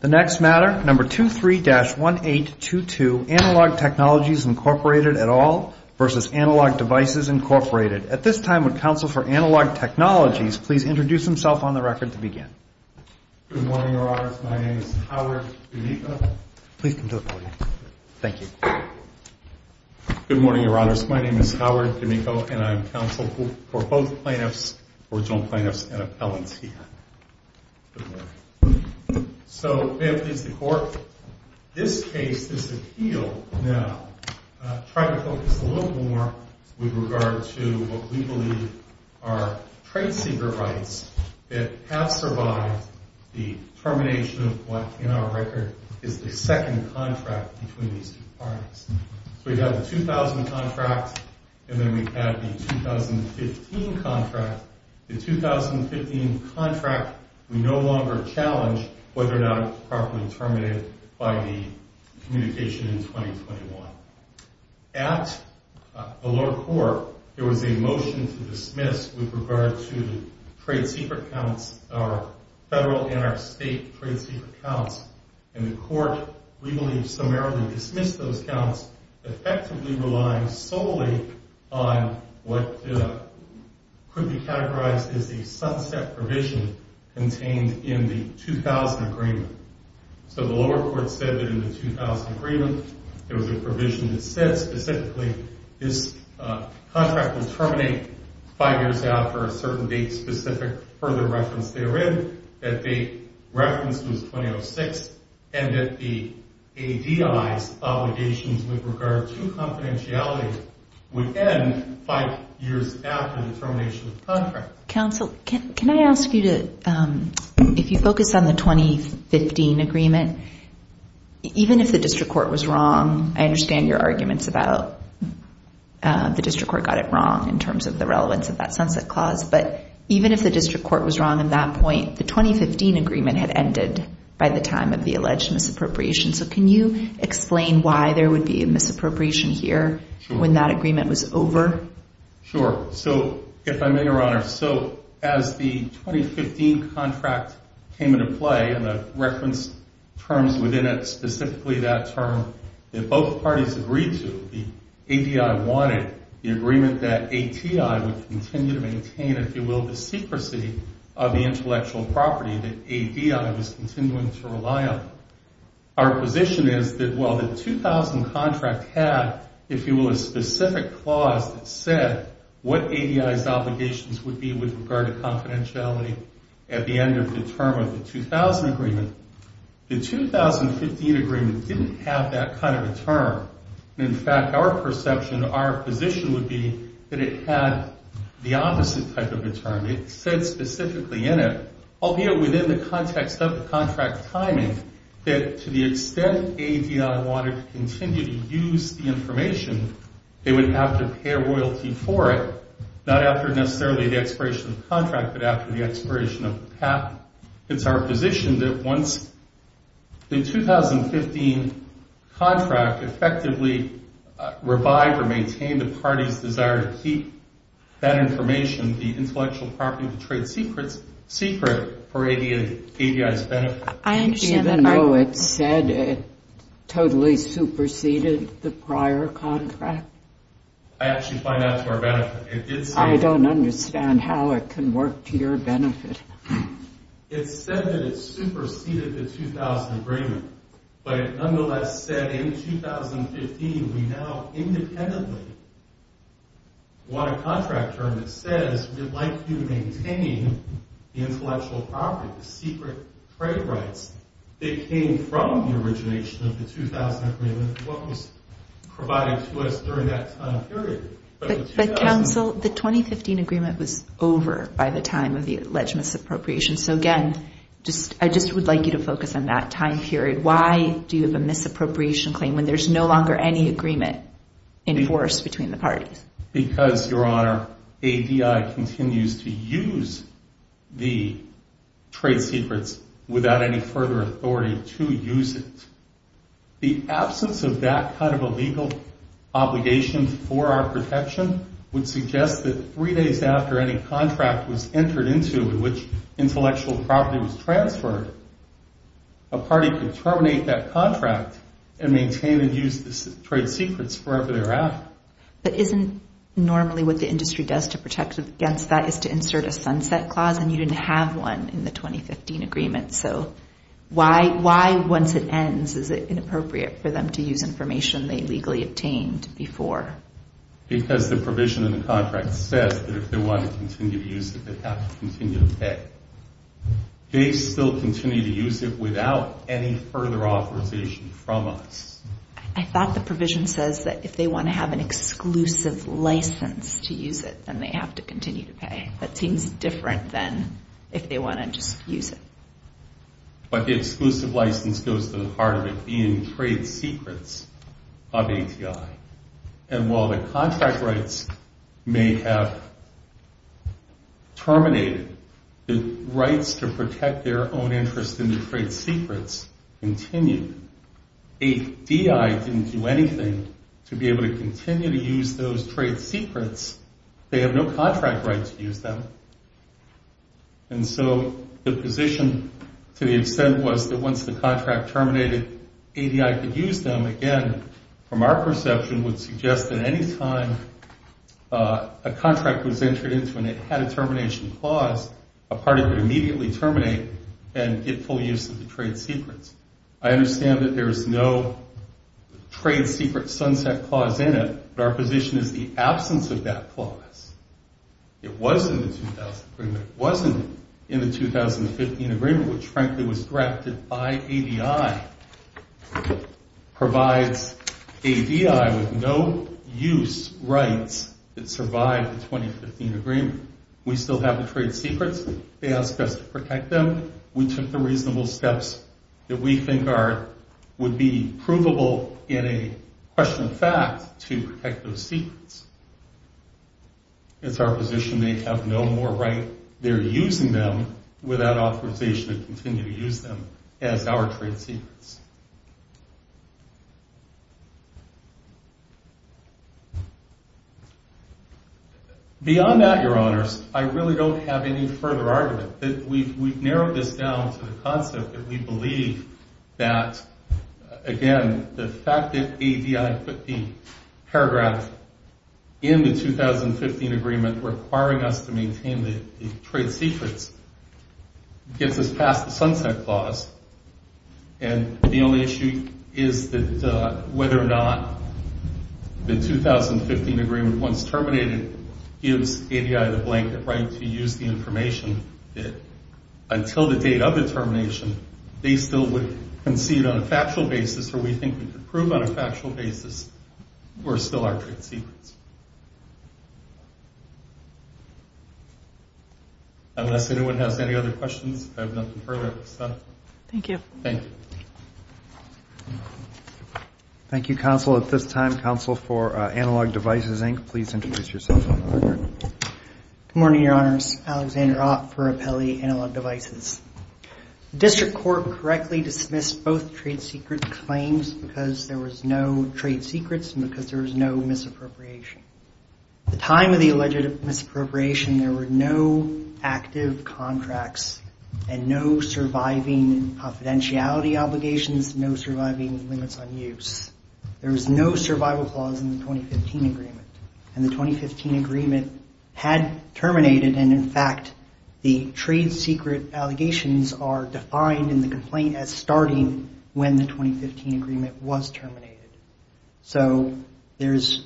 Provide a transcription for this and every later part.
The next matter, number 23-1822, Analog Technologies, Inc. at all v. Analog Devices, Inc. At this time, would counsel for Analog Technologies please introduce himself on the record to begin. Good morning, Your Honors. My name is Howard D'Amico. Please come to the podium. Thank you. Good morning, Your Honors. My name is Howard D'Amico, and I am counsel for both plaintiffs, original plaintiffs and appellants here. Good morning. So, may it please the Court, this case, this appeal now, try to focus a little more with regard to what we believe are trade secret rights that have survived the termination of what, in our record, is the second contract between these two parties. So we have the 2000 contract, and then we have the 2015 contract. The 2015 contract, we no longer challenge whether or not it was properly terminated by the communication in 2021. At the lower court, there was a motion to dismiss with regard to trade secret counts, our federal and our state trade secret counts. And the Court, we believe, summarily dismissed those counts, effectively relying solely on what could be categorized as a sunset provision contained in the 2000 agreement. So the lower court said that in the 2000 agreement, there was a provision that said specifically, this contract will terminate five years after a certain date-specific further reference therein. That the reference was 2006, and that the ADI's obligations with regard to confidentiality would end five years after the termination of the contract. Counsel, can I ask you to, if you focus on the 2015 agreement, even if the district court was wrong, I understand your arguments about the district court got it wrong in terms of the relevance of that sunset clause, but even if the district court was wrong in that point, the 2015 agreement had ended by the time of the alleged misappropriation. So can you explain why there would be a misappropriation here when that agreement was over? Sure. So, if I may, Your Honor, so as the 2015 contract came into play, and the reference terms within it, specifically that term that both parties agreed to, that the ADI wanted, the agreement that ATI would continue to maintain, if you will, the secrecy of the intellectual property that ADI was continuing to rely on. Our position is that while the 2000 contract had, if you will, a specific clause that said what ADI's obligations would be with regard to confidentiality at the end of the term of the 2000 agreement, the 2015 agreement didn't have that kind of a term. In fact, our perception, our position would be that it had the opposite type of a term. It said specifically in it, albeit within the context of the contract timing, that to the extent ADI wanted to continue to use the information, they would have to pay a royalty for it, not after necessarily the expiration of the contract, but after the expiration of the patent. It's our position that once the 2015 contract effectively revived or maintained the party's desire to keep that information, the intellectual property trade secret, for ADI's benefit. I understand that. Even though it said it totally superseded the prior contract? I actually find that to our benefit. I don't understand how it can work to your benefit. It said that it superseded the 2000 agreement, but it nonetheless said in 2015 we now independently want a contract term that says we'd like to maintain the intellectual property, the secret trade rights that came from the origination of the 2000 agreement, what was provided to us during that time period. But, counsel, the 2015 agreement was over by the time of the alleged misappropriation. So, again, I just would like you to focus on that time period. Why do you have a misappropriation claim when there's no longer any agreement in force between the parties? Because, Your Honor, ADI continues to use the trade secrets without any further authority to use it. The absence of that kind of a legal obligation for our protection would suggest that three days after any contract was entered into in which intellectual property was transferred, a party could terminate that contract and maintain and use the trade secrets wherever they're at. But isn't normally what the industry does to protect against that is to insert a sunset clause, and you didn't have one in the 2015 agreement? So why once it ends is it inappropriate for them to use information they legally obtained before? Because the provision in the contract says that if they want to continue to use it, they have to continue to pay. They still continue to use it without any further authorization from us. I thought the provision says that if they want to have an exclusive license to use it, then they have to continue to pay. That seems different than if they want to just use it. But the exclusive license goes to the heart of it being trade secrets of ATI. And while the contract rights may have terminated, the rights to protect their own interest in the trade secrets continue. ADI didn't do anything to be able to continue to use those trade secrets. They have no contract right to use them. And so the position to the extent was that once the contract terminated, ADI could use them again from our perception would suggest that any time a contract was entered into and it had a termination clause, a party could immediately terminate and get full use of the trade secrets. I understand that there is no trade secret sunset clause in it, but our position is the absence of that clause. It was in the 2000 agreement. It wasn't in the 2015 agreement, which frankly was drafted by ADI, provides ADI with no use rights that survived the 2015 agreement. We still have the trade secrets. They asked us to protect them. We took the reasonable steps that we think would be provable in a question of fact to protect those secrets. It's our position they have no more right. They're using them without authorization to continue to use them as our trade secrets. Beyond that, Your Honors, I really don't have any further argument. We've narrowed this down to the concept that we believe that, again, the fact that ADI put the paragraph in the 2015 agreement requiring us to maintain the trade secrets gets us past the sunset clause. And the only issue is that whether or not the 2015 agreement, once terminated, gives ADI the blanket right to use the information until the date of the termination, they still would concede on a factual basis or we think we could prove on a factual basis we're still our trade secrets. Unless anyone has any other questions, I have nothing further to say. Thank you. Thank you, Counsel. At this time, Counsel for Analog Devices, Inc., please introduce yourself. Good morning, Your Honors. Alexander Ott for Apelli Analog Devices. The district court correctly dismissed both trade secret claims because there was no trade secrets and because there was no misappropriation. At the time of the alleged misappropriation, there were no active contracts and no surviving confidentiality obligations, no surviving limits on use. There was no survival clause in the 2015 agreement, and the 2015 agreement had terminated and, in fact, the trade secret allegations are defined in the complaint as starting when the 2015 agreement was terminated. So there's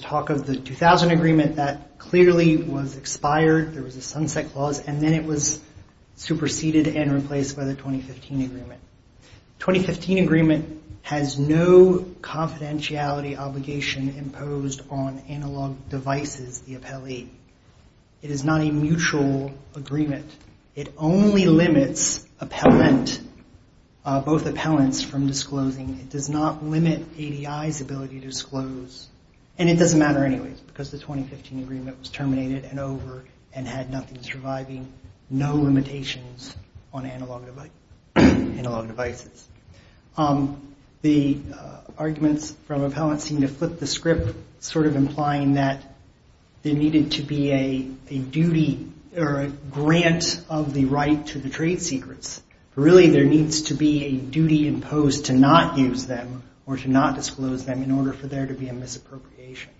talk of the 2000 agreement that clearly was expired. There was a sunset clause, and then it was superseded and replaced by the 2015 agreement. The 2015 agreement has no confidentiality obligation imposed on Analog Devices, the Apelli. It is not a mutual agreement. It only limits both appellants from disclosing. It does not limit ADI's ability to disclose, and it doesn't matter anyway because the 2015 agreement was terminated and over and had nothing surviving, no limitations on Analog Devices. The arguments from appellants seem to flip the script, sort of implying that there needed to be a duty or a grant of the right to the trade secrets. Really, there needs to be a duty imposed to not use them or to not disclose them in order for there to be a misappropriation.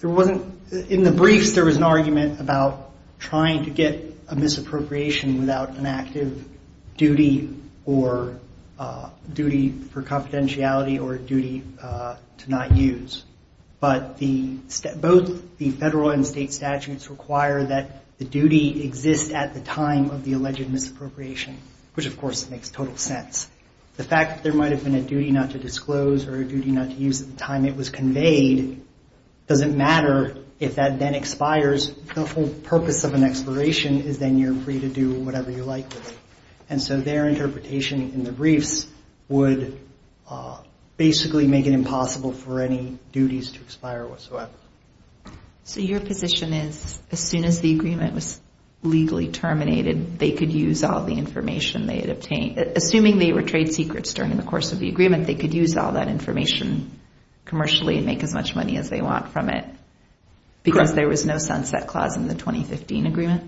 There wasn't, in the briefs there was an argument about trying to get a misappropriation without an active duty or duty for confidentiality or a duty to not use, but both the federal and state statutes require that the duty exists at the time of the alleged misappropriation, which, of course, makes total sense. The fact that there might have been a duty not to disclose or a duty not to use at the time it was conveyed, doesn't matter if that then expires. The whole purpose of an expiration is then you're free to do whatever you like with it. And so their interpretation in the briefs would basically make it impossible for any duties to expire whatsoever. So your position is as soon as the agreement was legally terminated, they could use all the information they had obtained, assuming they were trade secrets during the course of the agreement, they could use all that information commercially and make as much money as they want from it because there was no sunset clause in the 2015 agreement?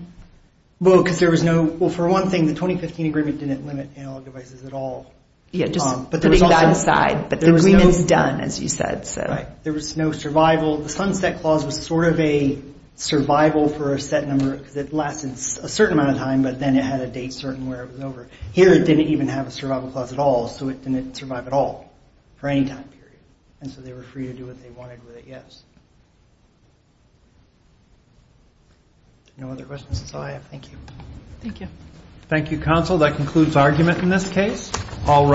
Well, for one thing, the 2015 agreement didn't limit analog devices at all. Yeah, just putting that aside, but the agreement's done, as you said. There was no survival. The sunset clause was sort of a survival for a set number because it lasted a certain amount of time, but then it had a date certain where it was over. Here it didn't even have a survival clause at all, so it didn't survive at all for any time period. And so they were free to do what they wanted with it, yes. No other questions? That's all I have. Thank you. Thank you, counsel. That concludes argument in this case.